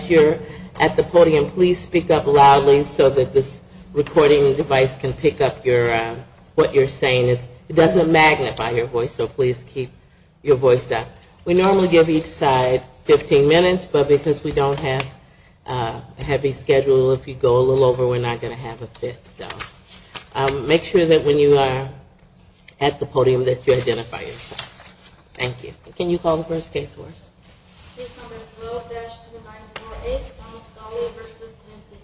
here at the podium, please speak up loudly so that this recording device can pick up what you're saying. It doesn't magnify your voice, so please keep your voice up. We normally give each side 15 minutes, but because we don't have a heavy schedule, if you go a little over, we're not going to have a fit. So make sure that when you are at the podium that you identify yourself. Thank you. Can you call the first case for us? Case number 12-2948, Thomas Golly v. NPD.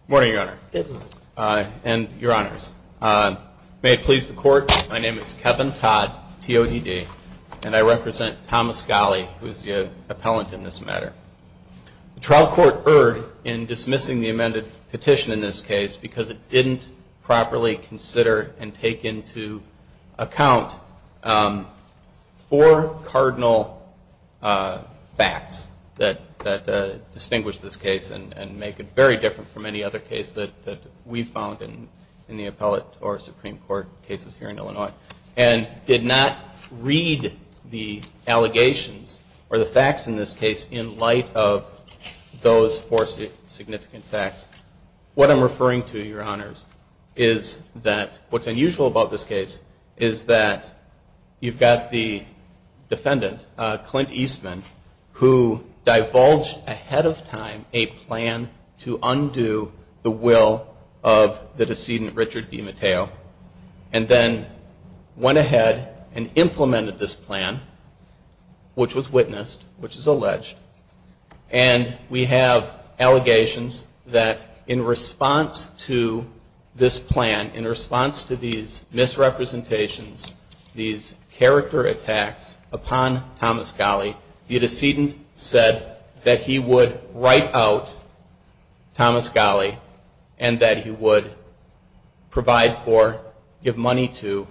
Good morning, Your Honor, and Your Honors. May it please the Court, my name is Kevin Todd, TODD, and I represent Thomas Golly, who is the petition in this case because it didn't properly consider and take into account four cardinal facts that distinguish this case and make it very different from any other case that we've found in the appellate or Supreme Court cases here in Illinois, and did not read the allegations or the facts in this case in light of those four significant facts. What I'm referring to, Your Honors, is that what's unusual about this case is that you've got the defendant, Clint Eastman, who divulged ahead of time a plan to undo the will of the decedent, Richard D. Mateo, and then went ahead and implemented this plan, which was witnessed, which is alleged, and we have allegations that in response to this plan, in response to these misrepresentations, these character attacks upon Thomas Golly, the decedent said that he would write out Thomas Golly and that he would provide for, give money to,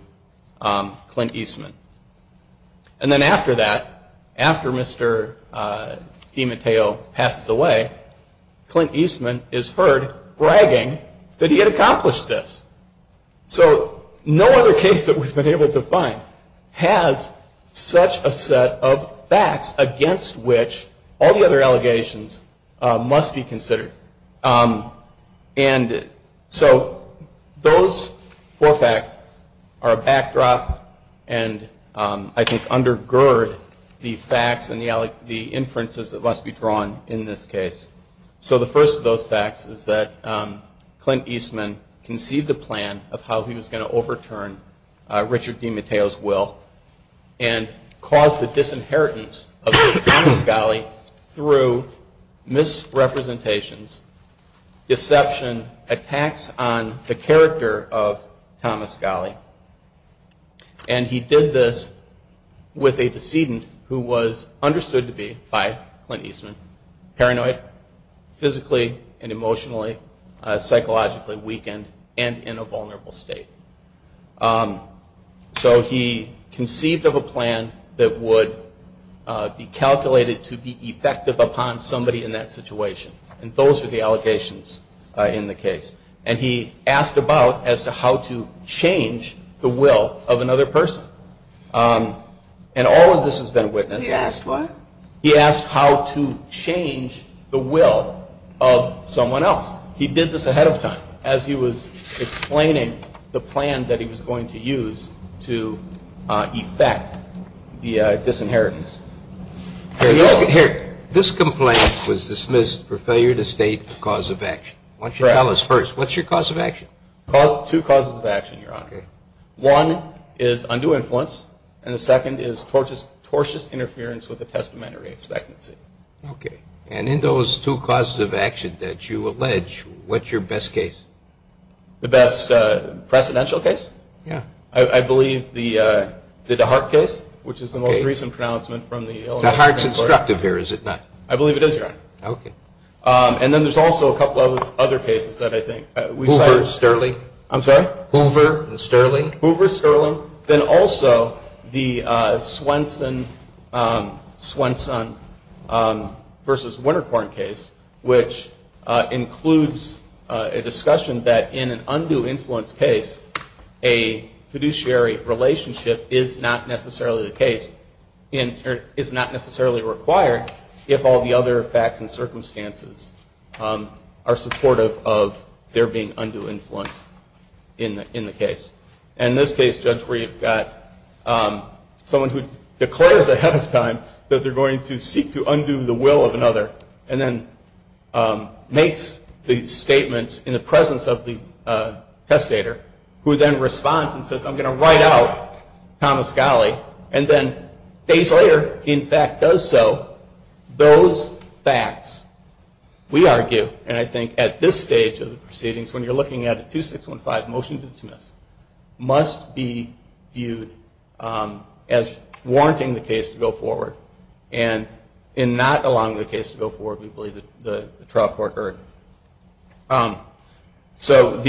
Clint Eastman. And then after that, after Mr. D. Mateo passes away, Clint Eastman is heard bragging that he had accomplished this. So no other case that we've been able to find has such a set of facts against which all the other allegations must be withdrawn. So those four facts are a backdrop and I think undergird the facts and the inferences that must be drawn in this case. So the first of those facts is that Clint Eastman conceived a plan of how he was going to overturn Richard D. Mateo's will and cause the disinheritance of Thomas Golly. And he did this with a decedent who was understood to be, by Clint Eastman, paranoid, physically and emotionally, psychologically weakened, and in a vulnerable state. So he conceived of a plan that would be calculated to be effective upon somebody in that situation. And those are the facts. And he asked about as to how to change the will of another person. And all of this has been witnessed. He asked how to change the will of someone else. He did this ahead of time as he was explaining the plan that he was going to use to effect the disinheritance. This complaint was two causes of action, Your Honor. One is undue influence. And the second is tortuous interference with the testamentary expectancy. And in those two causes of action that you allege, what's your best case? The best precedential case? Yeah. I believe the DeHart case, which is the most instructive here, is it not? I believe it is, Your Honor. Okay. And then there's also a couple of other cases that I think we've cited. Hoover, Sterling? I'm sorry? Hoover and Sterling? Hoover, Sterling. Then also the Swenson versus Wintercourt case, which includes a discussion that in an if all the other facts and circumstances are supportive of there being undue influence in the case. And in this case, Judge, where you've got someone who declares ahead of time that they're going to seek to undo the will of another and then makes the statements in the presence of the I'm going to write out Thomas Golley. And then days later, he in fact does so. Those facts, we argue, and I think at this stage of the proceedings, when you're looking at a 2615 motion to dismiss, must be viewed as warranting the case to go forward. And in not allowing the case to go forward, we believe the trial court heard. So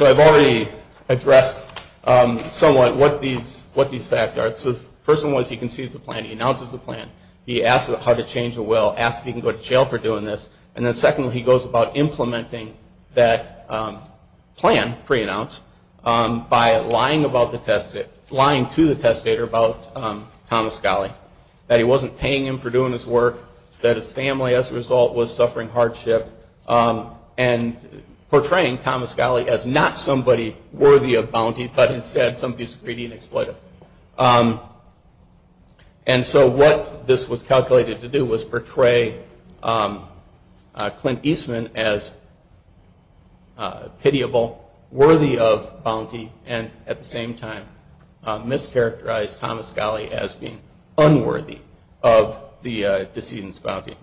I've already addressed somewhat what these facts are. The first one was he concedes the plan. He announces the plan. He asks how to change the will. Asks if he can go to jail for doing this. And then secondly, he goes about implementing that plan, pre-announced, by lying to the testator about Thomas Golley. That he wasn't paying him for doing his work. That his family, as a result, was suffering hardship. And portraying Thomas Golley as not somebody worthy of bounty, but instead somebody who's greedy and exploitive. And so what this was calculated to do was portray Clint Eastman as pitiable, worthy of bounty, and at the same time mischaracterize Thomas Golley as being unworthy of the decedent's bounty.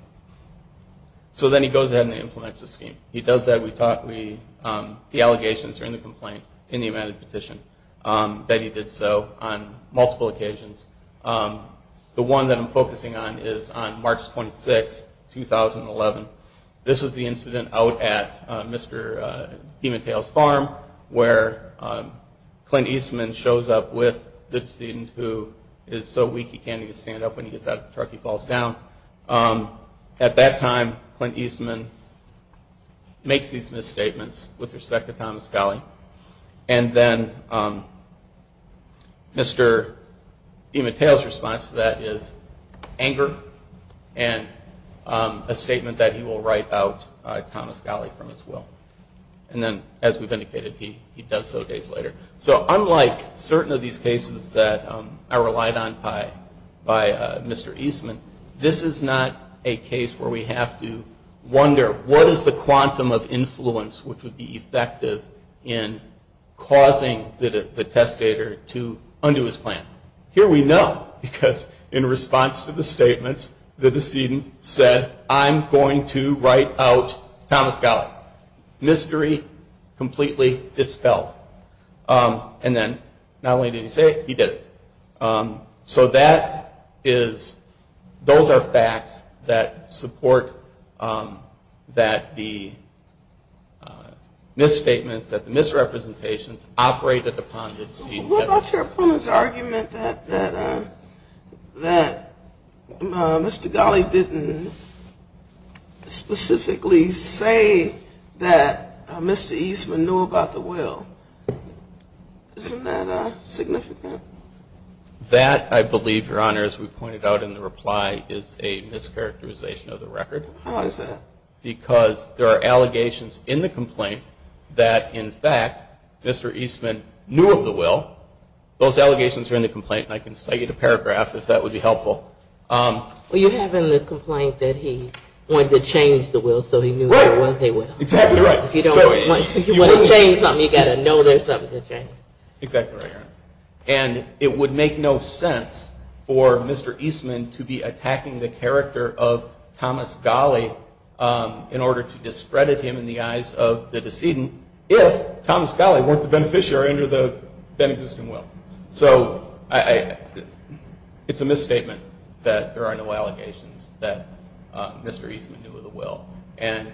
So then he goes ahead and implements the scheme. He does that. The allegations are in the complaint, in the amended petition, that he did so on multiple occasions. The one that I'm focusing on is on March 26, 2011. This is the incident out at Mr. DiMatteo's farm where Clint Eastman shows up with the decedent who is so weak he can't even stand up when he gets out of the truck. He falls down. At that time, Clint Eastman makes these misstatements with respect to Thomas Golley. And then Mr. DiMatteo's response to that is anger and a statement that he will write out Thomas Golley from his will. And then, as we've indicated, he does so days later. So unlike certain of these cases that I relied on by Mr. Eastman, this is not a case where we have to wonder what is the quantum of influence which would be effective in causing the misrepresentation. In response to the statements, the decedent said, I'm going to write out Thomas Golley. Mystery completely dispelled. And then not only did he say it, he did it. So that is, those are facts that support that the misstatements, that the misrepresentations operated upon the decedent. What about your opponent's argument that Mr. Golley didn't specifically say that Mr. Eastman knew about the will? Isn't that significant? That, I believe, Your Honor, as we pointed out in the reply, is a mischaracterization of the record. How is that? Because there are allegations in the complaint that, in fact, Mr. Eastman knew of the will. Those allegations are in the complaint, and I can cite you to paragraph if that would be helpful. Well, you have in the complaint that he wanted to change the will so he knew there was a will. Exactly right. If you want to change something, you've got to know there's something to change. Exactly right, Your Honor. And it would make no sense for Mr. Eastman to be attacking the character of Thomas Golley in order to decedent if Thomas Golley weren't the beneficiary under that existing will. So it's a misstatement that there are no allegations that Mr. Eastman knew of the will. And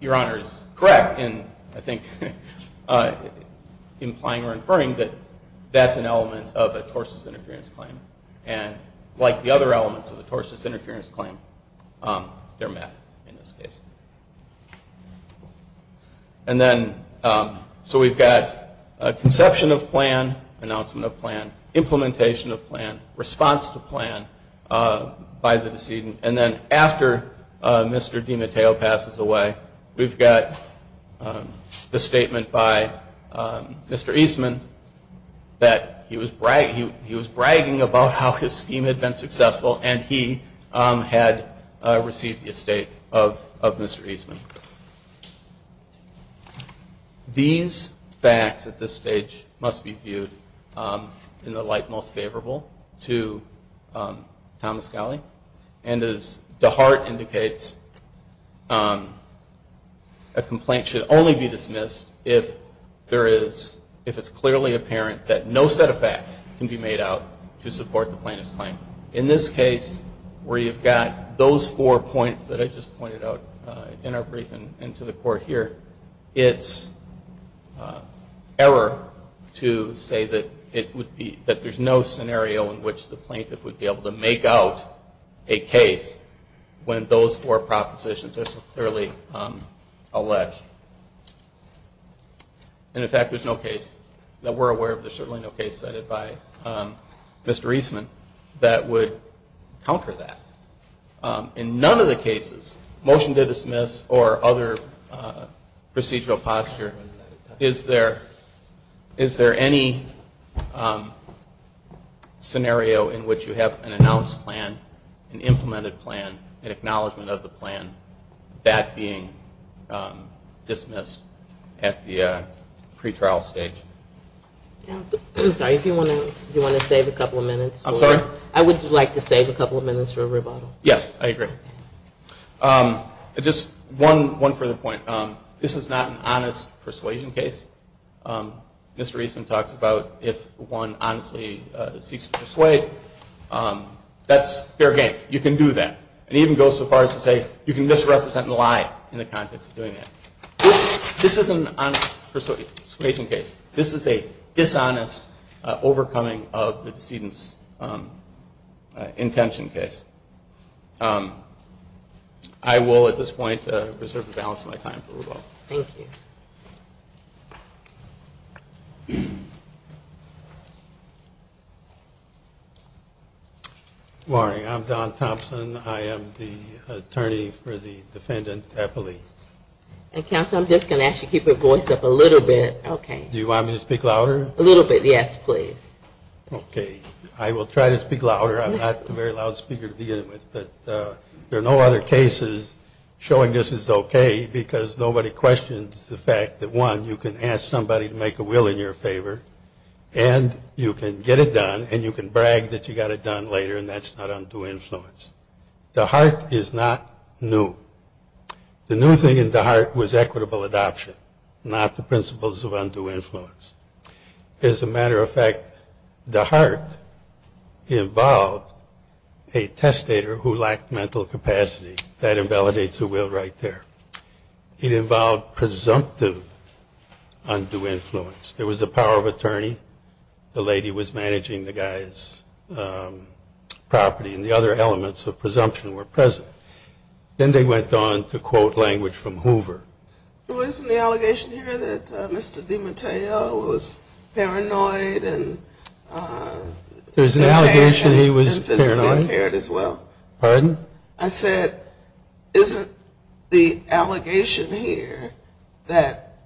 Your Honor is correct in, I think, implying or inferring that that's an element of a tortious interference claim. And like the other elements of a tortious interference claim, they're met in this case. And then, so we've got conception of plan, announcement of plan, implementation of plan, response to plan by the decedent. And then after Mr. DiMatteo passes away, we've got the statement by Mr. Eastman that he was bragging about how his scheme had been successful and he had received the estate of Mr. Eastman. These facts at this stage must be viewed in the light most favorable to Thomas Golley. And as DeHart indicates, a complaint should only be dismissed if there is, if it's clearly apparent that no set of facts can be made out to support the plaintiff's claim. In this case, where you've got those four points that I just pointed out in our brief and to the Court here, it's error to say that it would be, that there's no scenario in which the plaintiff would be able to make out a case when those four propositions are so clearly alleged. And in fact, there's no case that we're aware of. There's certainly no case cited by Mr. Eastman that would counter that. In none of the cases, motion to the Court, there's no scenario in which you have an announced plan, an implemented plan, an acknowledgement of the plan, that being dismissed at the pretrial stage. I'm sorry, if you want to save a couple of minutes. I'm sorry? I would like to save a couple of minutes for rebuttal. Yes, I agree. Just one further point. This is not an honest persuasion case. Mr. Eastman talks about if one honestly seeks to persuade, that's fair game. You can do that. It even goes so far as to say you can misrepresent the lie in the context of doing that. This isn't an honest persuasion case. This is a dishonest overcoming of the decedent's intention case. I will at this point reserve the balance of my time for rebuttal. Thank you. Good morning. I'm Don Thompson. I am the attorney for the defendant, Eppley. Counsel, I'm just going to ask you to keep your voice up a little bit. Do you want me to speak louder? A little bit, yes, please. Okay. I will try to speak louder. I'm not a very loud speaker to begin with, but there are no other cases showing this is okay because nobody questions the fact that, one, you can ask somebody to make a will in your favor, and you can get it done, and you can brag that you got it done later, and that's not undue influence. DeHart is not new. The new thing in DeHart was equitable adoption, not the principles of undue influence. As a matter of fact, DeHart involved a testator who lacked mental capacity. That invalidates the will right there. It involved presumptive undue influence. There was a power of attorney. The lady was managing the guy's property, and the other elements of presumption were present. Then they went on to quote language from Hoover. Well, isn't the allegation here that Mr. DiMatteo was paranoid and physically impaired as well? Pardon? I said, isn't the allegation here that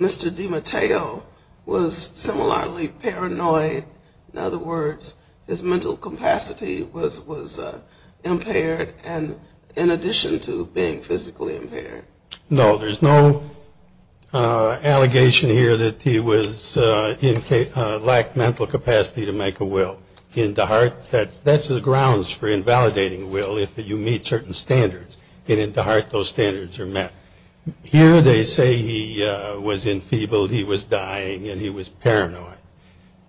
Mr. DiMatteo was similarly paranoid? In other words, his mental capacity was impaired in addition to being physically impaired. No, there's no allegation here that he lacked mental capacity to make a will. In DeHart, that's the grounds for invalidating a will if you meet certain standards. And in DeHart, those standards are met. Here they say he was enfeebled, he was dying, and he was paranoid.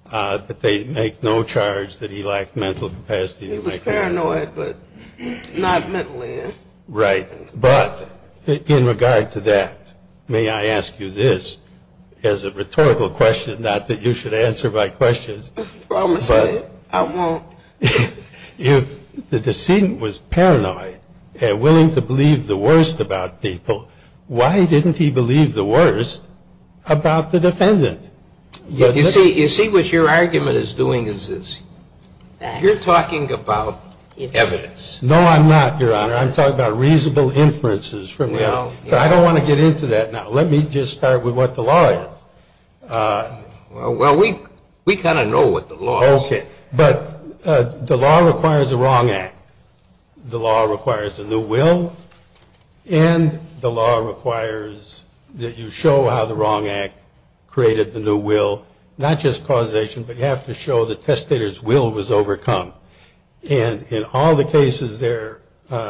But they make no charge that he lacked mental capacity to make a will. He was paranoid, but not mentally. Right. But in regard to that, may I ask you this as a rhetorical question, not that you should answer by questions. I promise I won't. If the decedent was paranoid and willing to believe the worst about people, why didn't he believe the worst about the defendant? You see what your argument is doing is this. You're talking about evidence. No, I'm not, Your Honor. I'm talking about reasonable inferences from the evidence. I don't want to get into that now. Let me just start with what the law is. Well, we kind of know what the law is. Okay. But the law requires a wrong act. The law requires a new will. And the law requires that you show how the wrong act created the new will, not just causation, but you have to show the testator's will was overcome. And in all the cases they're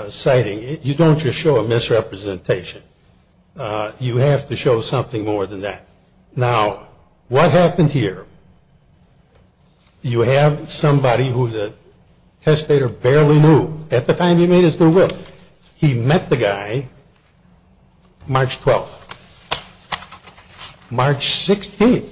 citing, you don't just show a misrepresentation. You have to show something more than that. Now, what happened here? You have somebody who the testator barely knew at the time he made his new will. He met the guy March 12th. March 16th,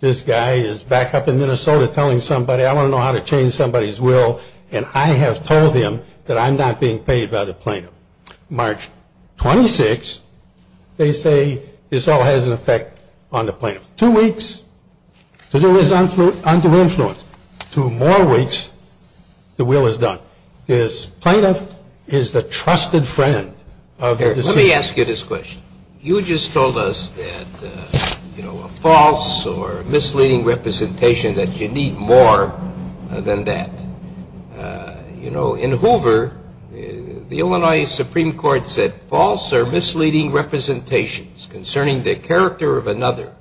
this guy is back up in Minnesota telling somebody, I want to know how to change somebody's will, and I have told him that I'm not being paid by the plaintiff. March 26th, they say this all has an effect on the plaintiff. Two weeks, the will is under influence. Two more weeks, the will is done. This plaintiff is the trusted friend of the decision. Let me ask you this question. You just told us that, you know, a false or misleading representation, that you need more than that. You know, in Hoover, the Illinois Supreme Court said false or misleading representations concerning the character of another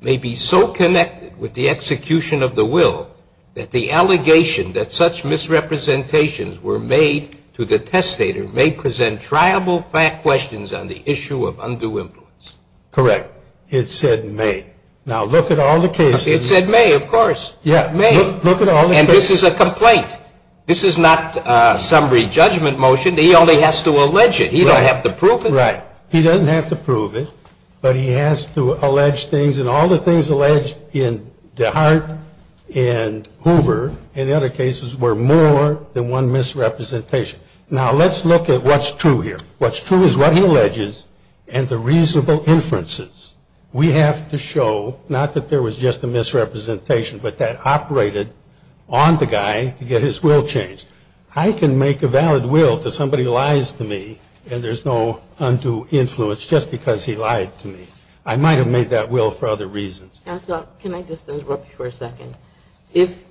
may be so connected with the execution of the will that the allegation that such misrepresentations were made to the testator may present triable questions on the issue of undue influence. Correct. It said may. Now, look at all the cases. It said may, of course. Yeah, may. Look at all the cases. And this is a complaint. This is not summary judgment motion. He only has to allege it. He doesn't have to prove it. Right. He doesn't have to prove it, but he has to allege things. And all the things alleged in DeHart and Hoover and the other cases were more than one misrepresentation. Now, let's look at what's true here. What's true is what he alleges and the reasonable inferences. We have to show not that there was just a misrepresentation, but that operated on the guy to get his will changed. I can make a valid will if somebody lies to me and there's no undue influence just because he lied to me. I might have made that will for other reasons. Counsel, can I just interrupt you for a second? If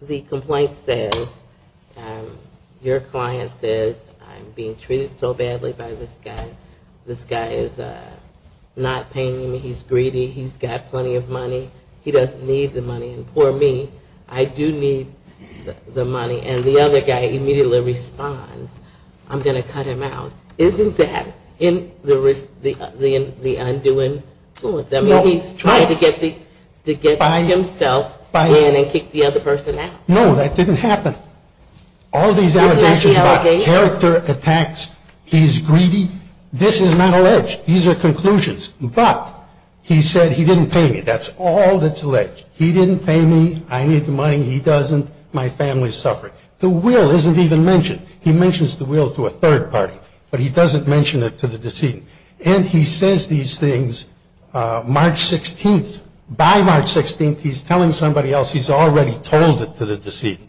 the complaint says your client says I'm being treated so badly by this guy, this guy is not paying me, he's greedy, he's got plenty of money, he doesn't need the money, and poor me, I do need the money, and the other guy immediately responds, I'm going to cut him out, isn't that in the undue influence? I mean, he's trying to get himself in and kick the other person out. No, that didn't happen. All these allegations about character attacks, he's greedy, this is not alleged. These are conclusions. But he said he didn't pay me. That's all that's alleged. He didn't pay me. I need the money. He doesn't. My family's suffering. The will isn't even mentioned. He mentions the will to a third party, but he doesn't mention it to the decedent. And he says these things March 16th. By March 16th, he's telling somebody else he's already told it to the decedent.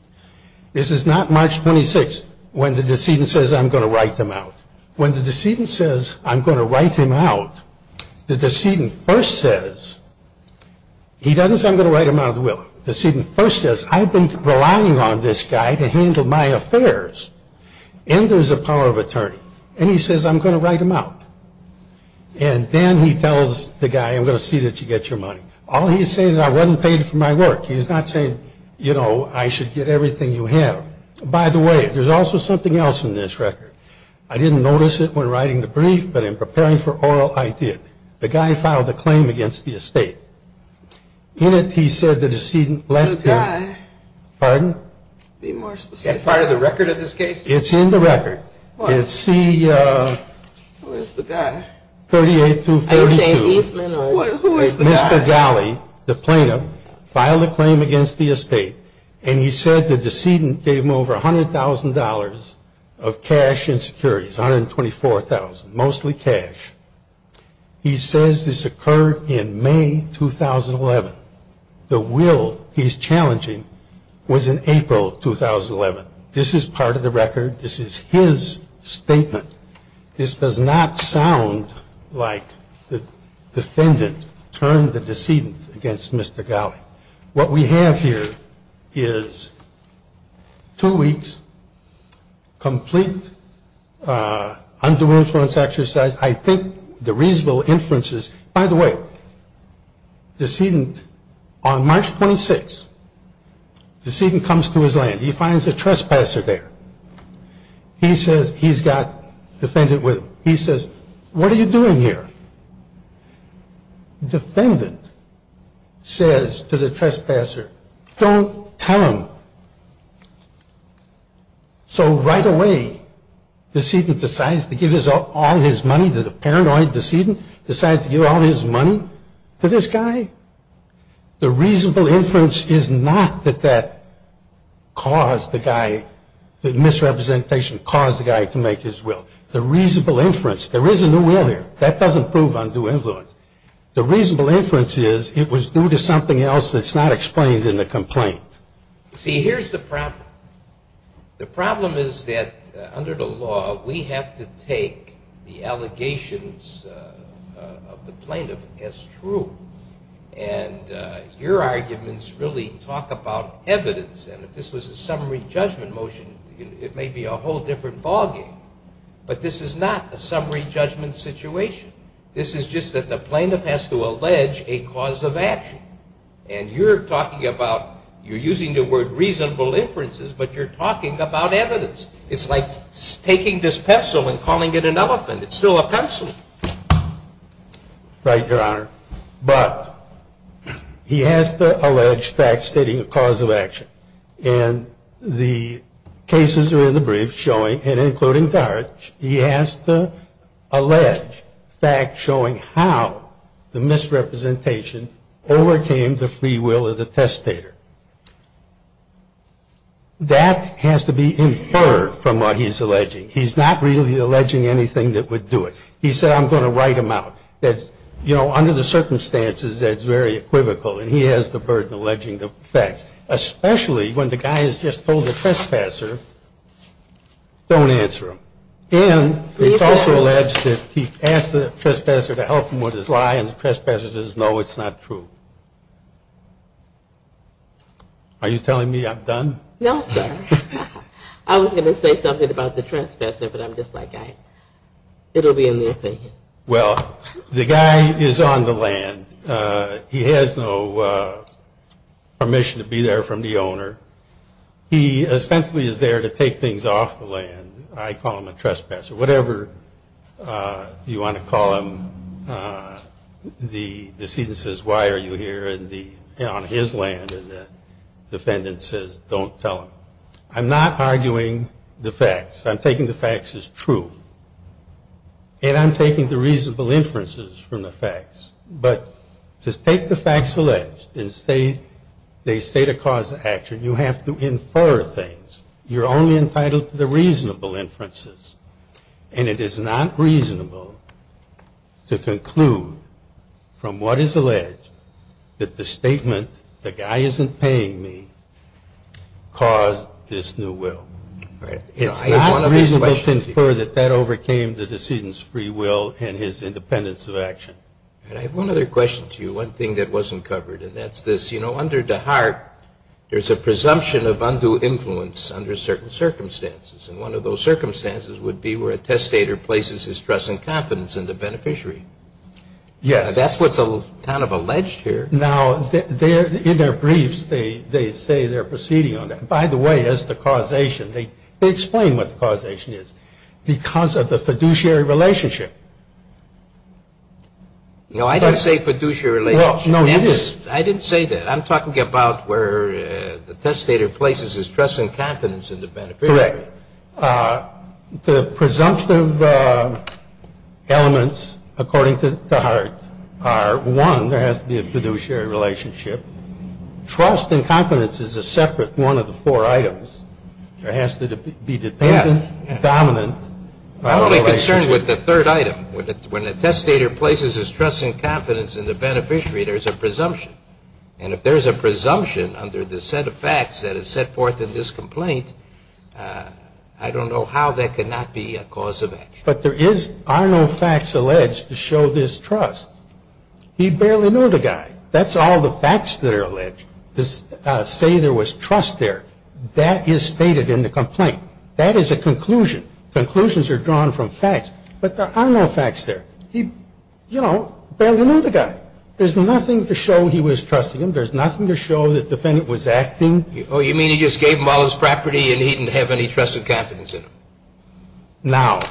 This is not March 26th when the decedent says I'm going to write him out. When the decedent says I'm going to write him out, the decedent first says, he doesn't say I'm going to write him out of the will. The decedent first says I've been relying on this guy to handle my affairs, and there's a power of attorney. And he says I'm going to write him out. And then he tells the guy I'm going to see that you get your money. All he's saying is I wasn't paid for my work. He's not saying, you know, I should get everything you have. By the way, there's also something else in this record. I didn't notice it when writing the brief, but in preparing for oral, I did. The guy filed a claim against the estate. In it, he said the decedent left him. The guy? Pardon? Be more specific. Is that part of the record of this case? It's in the record. What? It's C- Who is the guy? 38-32. Are you saying Eastman or? Who is the guy? Mr. Galley, the plaintiff, filed a claim against the estate, and he said the decedent gave him over $100,000 of cash and securities, $124,000, mostly cash. He says this occurred in May 2011. The will he's challenging was in April 2011. This is part of the record. This is his statement. This does not sound like the defendant turned the decedent against Mr. Galley. What we have here is two weeks, complete undue influence exercise. I think the reasonable inference is, by the way, the decedent, on March 26, the decedent comes to his land. He finds a trespasser there. He says he's got defendant with him. He says, what are you doing here? Defendant says to the trespasser, don't tell him. So right away, decedent decides to give all his money to the paranoid decedent, decides to give all his money to this guy. The reasonable inference is not that that caused the guy, that misrepresentation caused the guy to make his will. The reasonable inference, there is a new will here. That doesn't prove undue influence. The reasonable inference is it was due to something else that's not explained in the complaint. See, here's the problem. The problem is that under the law, we have to take the allegations of the plaintiff as true. And your arguments really talk about evidence. And if this was a summary judgment motion, it may be a whole different ballgame. But this is not a summary judgment situation. This is just that the plaintiff has to allege a cause of action. And you're talking about, you're using the word reasonable inferences, but you're talking about evidence. It's like taking this pencil and calling it an elephant. It's still a pencil. Right, Your Honor. But he has to allege facts stating a cause of action. And the cases are in the brief showing, and including Gart, he has to allege facts showing how the misrepresentation overcame the free will of the testator. That has to be inferred from what he's alleging. He's not really alleging anything that would do it. He said, I'm going to write them out. You know, under the circumstances, that's very equivocal. And he has the burden of alleging the facts, especially when the guy has just told the trespasser, don't answer him. And it's also alleged that he asked the trespasser to help him with his lie, and the trespasser says, no, it's not true. Are you telling me I'm done? No, sir. I was going to say something about the trespasser, but I'm just like, it will be in the opinion. Well, the guy is on the land. And he has no permission to be there from the owner. He essentially is there to take things off the land. I call him a trespasser. Whatever you want to call him, the decedent says, why are you here on his land? And the defendant says, don't tell him. I'm not arguing the facts. I'm taking the facts as true. And I'm taking the reasonable inferences from the facts. But to take the facts alleged and say they state a cause of action, you have to infer things. You're only entitled to the reasonable inferences. And it is not reasonable to conclude from what is alleged that the statement, the guy isn't paying me, caused this new will. It's not reasonable to infer that that overcame the decedent's free will and his independence of action. And I have one other question to you, one thing that wasn't covered. And that's this. Under DeHart, there's a presumption of undue influence under certain circumstances. And one of those circumstances would be where a testator places his trust and confidence in the beneficiary. Yes. That's what's kind of alleged here. Now, in their briefs, they say they're proceeding on that. By the way, as to causation, they explain what the causation is. Because of the fiduciary relationship. No, I didn't say fiduciary relationship. Well, no, you did. I didn't say that. I'm talking about where the testator places his trust and confidence in the beneficiary. Correct. The presumptive elements, according to DeHart, are, one, there has to be a fiduciary relationship. Trust and confidence is a separate one of the four items. There has to be dependent, dominant. I'm only concerned with the third item. When a testator places his trust and confidence in the beneficiary, there's a presumption. And if there's a presumption under the set of facts that is set forth in this complaint, I don't know how that could not be a cause of action. But there are no facts alleged to show this trust. He barely knew the guy. That's all the facts that are alleged to say there was trust there. That is stated in the complaint. That is a conclusion. Conclusions are drawn from facts. But there are no facts there. He, you know, barely knew the guy. There's nothing to show he was trusting him. There's nothing to show the defendant was acting. Oh, you mean he just gave him all his property and he didn't have any trust and confidence in him? No.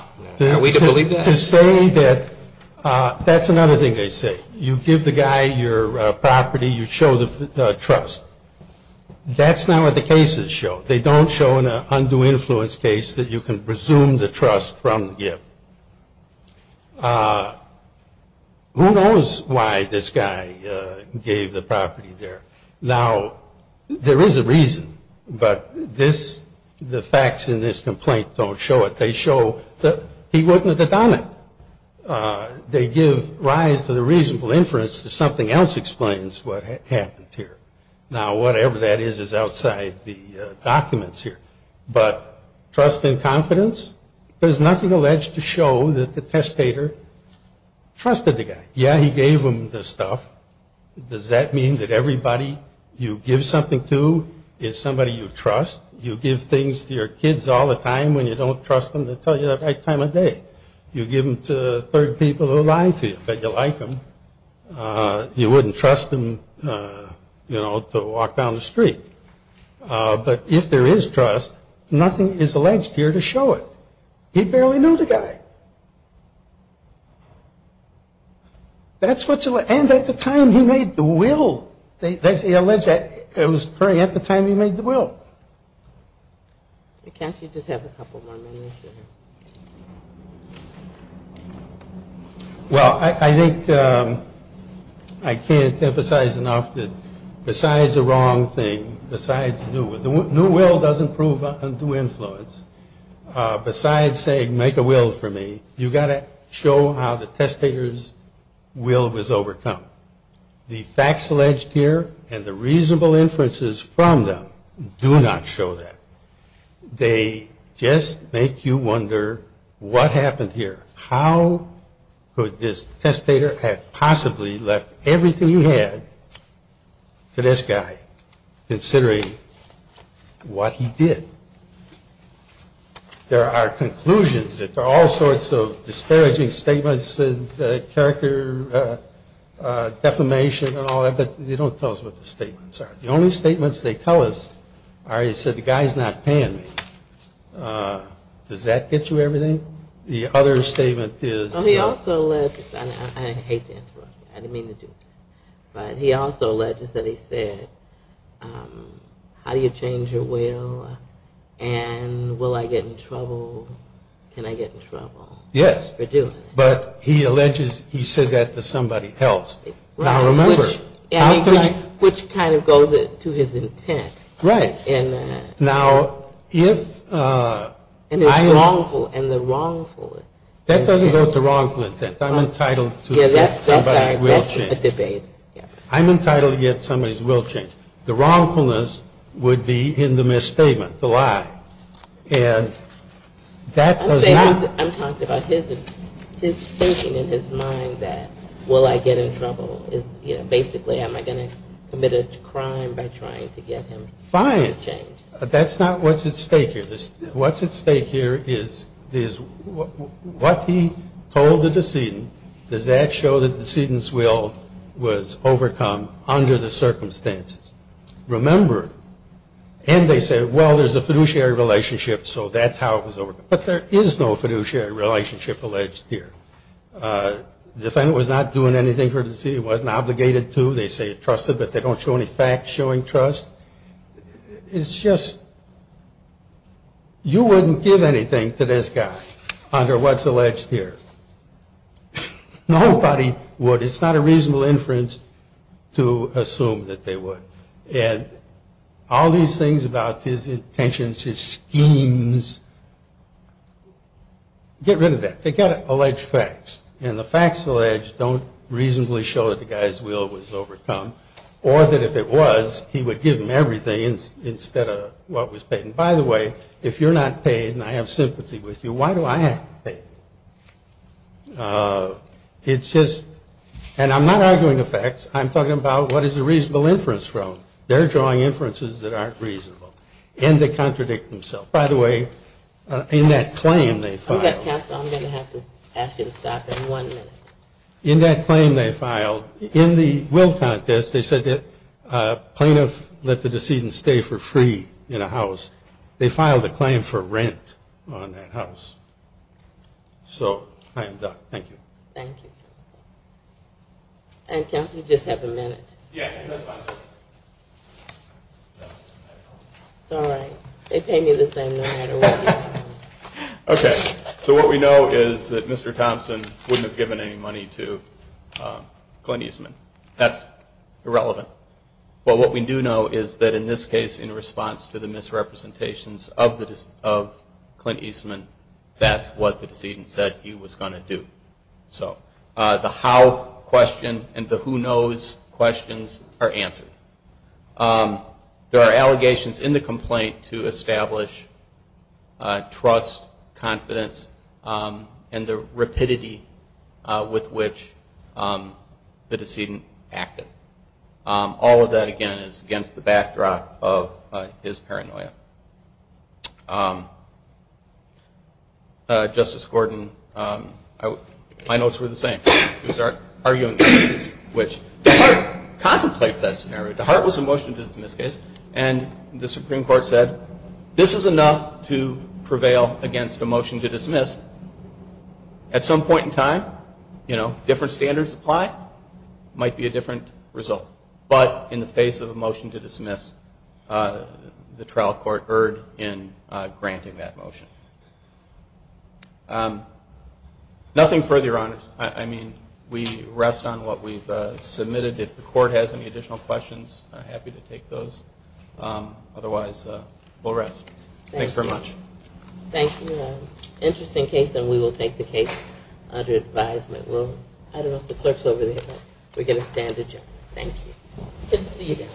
Are we to believe that? To say that that's another thing they say. You give the guy your property. You show the trust. That's not what the cases show. They don't show in an undue influence case that you can presume the trust from the gift. Who knows why this guy gave the property there? Now, there is a reason. But this, the facts in this complaint don't show it. They show that he wasn't a dadonic. They give rise to the reasonable inference that something else explains what happened here. Now, whatever that is is outside the documents here. But trust and confidence? There's nothing alleged to show that the testator trusted the guy. Yeah, he gave him the stuff. Does that mean that everybody you give something to is somebody you trust? You give things to your kids all the time when you don't trust them to tell you the right time of day. You give them to third people who lie to you. Bet you like them. You wouldn't trust them, you know, to walk down the street. But if there is trust, nothing is alleged here to show it. He barely knew the guy. That's what's alleged. And at the time he made the will. That's alleged. It was occurring at the time he made the will. Cass, you just have a couple more minutes here. Well, I think I can't emphasize enough that besides the wrong thing, besides new will, new will doesn't prove undue influence. Besides saying make a will for me, you've got to show how the testator's will was overcome. The facts alleged here and the reasonable inferences from them do not show that. They just make you wonder what happened here. How could this testator have possibly left everything he had to this guy, considering what he did? There are conclusions. There are all sorts of disparaging statements and character defamation and all that, but they don't tell us what the statements are. The only statements they tell us are, he said, the guy's not paying me. Does that get you everything? The other statement is. He also alleged, I hate to interrupt you, I didn't mean to do it, but he also alleges that he said, how do you change your will? And will I get in trouble? Can I get in trouble? Yes. For doing it. But he alleges he said that to somebody else. Now, remember. Which kind of goes to his intent. Right. Now, if I. And the wrongful intent. That doesn't go to wrongful intent. I'm entitled to somebody's will change. That's a debate. I'm entitled to get somebody's will change. The wrongfulness would be in the misstatement, the lie. And that does not. I'm talking about his thinking in his mind that, will I get in trouble? Basically, am I going to commit a crime by trying to get him to change? Fine. That's not what's at stake here. What's at stake here is what he told the decedent, does that show that the decedent's will was overcome under the circumstances? Remember, and they say, well, there's a fiduciary relationship, so that's how it was overcome. But there is no fiduciary relationship alleged here. The defendant was not doing anything for the decedent. He wasn't obligated to. They say he trusted, but they don't show any facts showing trust. It's just you wouldn't give anything to this guy under what's alleged here. Nobody would. It's not a reasonable inference to assume that they would. And all these things about his intentions, his schemes, get rid of that. They've got alleged facts, and the facts alleged don't reasonably show that the guy's will was overcome or that if it was, he would give him everything instead of what was paid. And, by the way, if you're not paid and I have sympathy with you, why do I have to pay? It's just, and I'm not arguing the facts. I'm talking about what is a reasonable inference from. They're drawing inferences that aren't reasonable, and they contradict themselves. By the way, in that claim they filed. I'm going to have to ask you to stop in one minute. In that claim they filed, in the will contest, they said that plaintiffs let the decedent stay for free in a house. They filed a claim for rent on that house. So I am done. Thank you. Thank you. Counsel, you just have a minute. It's all right. They pay me the same no matter what. Okay. So what we know is that Mr. Thompson wouldn't have given any money to Clint Eastman. That's irrelevant. But what we do know is that in this case, in response to the misrepresentations of Clint Eastman, that's what the decedent said he was going to do. So the how question and the who knows questions are answered. There are allegations in the complaint to establish trust, confidence, and the rapidity with which the decedent acted. All of that, again, is against the backdrop of his paranoia. Justice Gordon, my notes were the same. He was arguing the case in which DeHart contemplates that scenario. DeHart was a motion to dismiss case, and the Supreme Court said this is enough to prevail against a motion to dismiss. At some point in time, you know, different standards apply. It might be a different result. But in the face of a motion to dismiss, the trial court erred in granting that motion. Nothing further, Your Honors. I mean, we rest on what we've submitted. If the court has any additional questions, I'm happy to take those. Otherwise, we'll rest. Thanks very much. Thank you. Interesting case, and we will take the case under advisement. I don't know if the clerk's over there, but we're going to stand adjourned. Thank you. Good to see you again.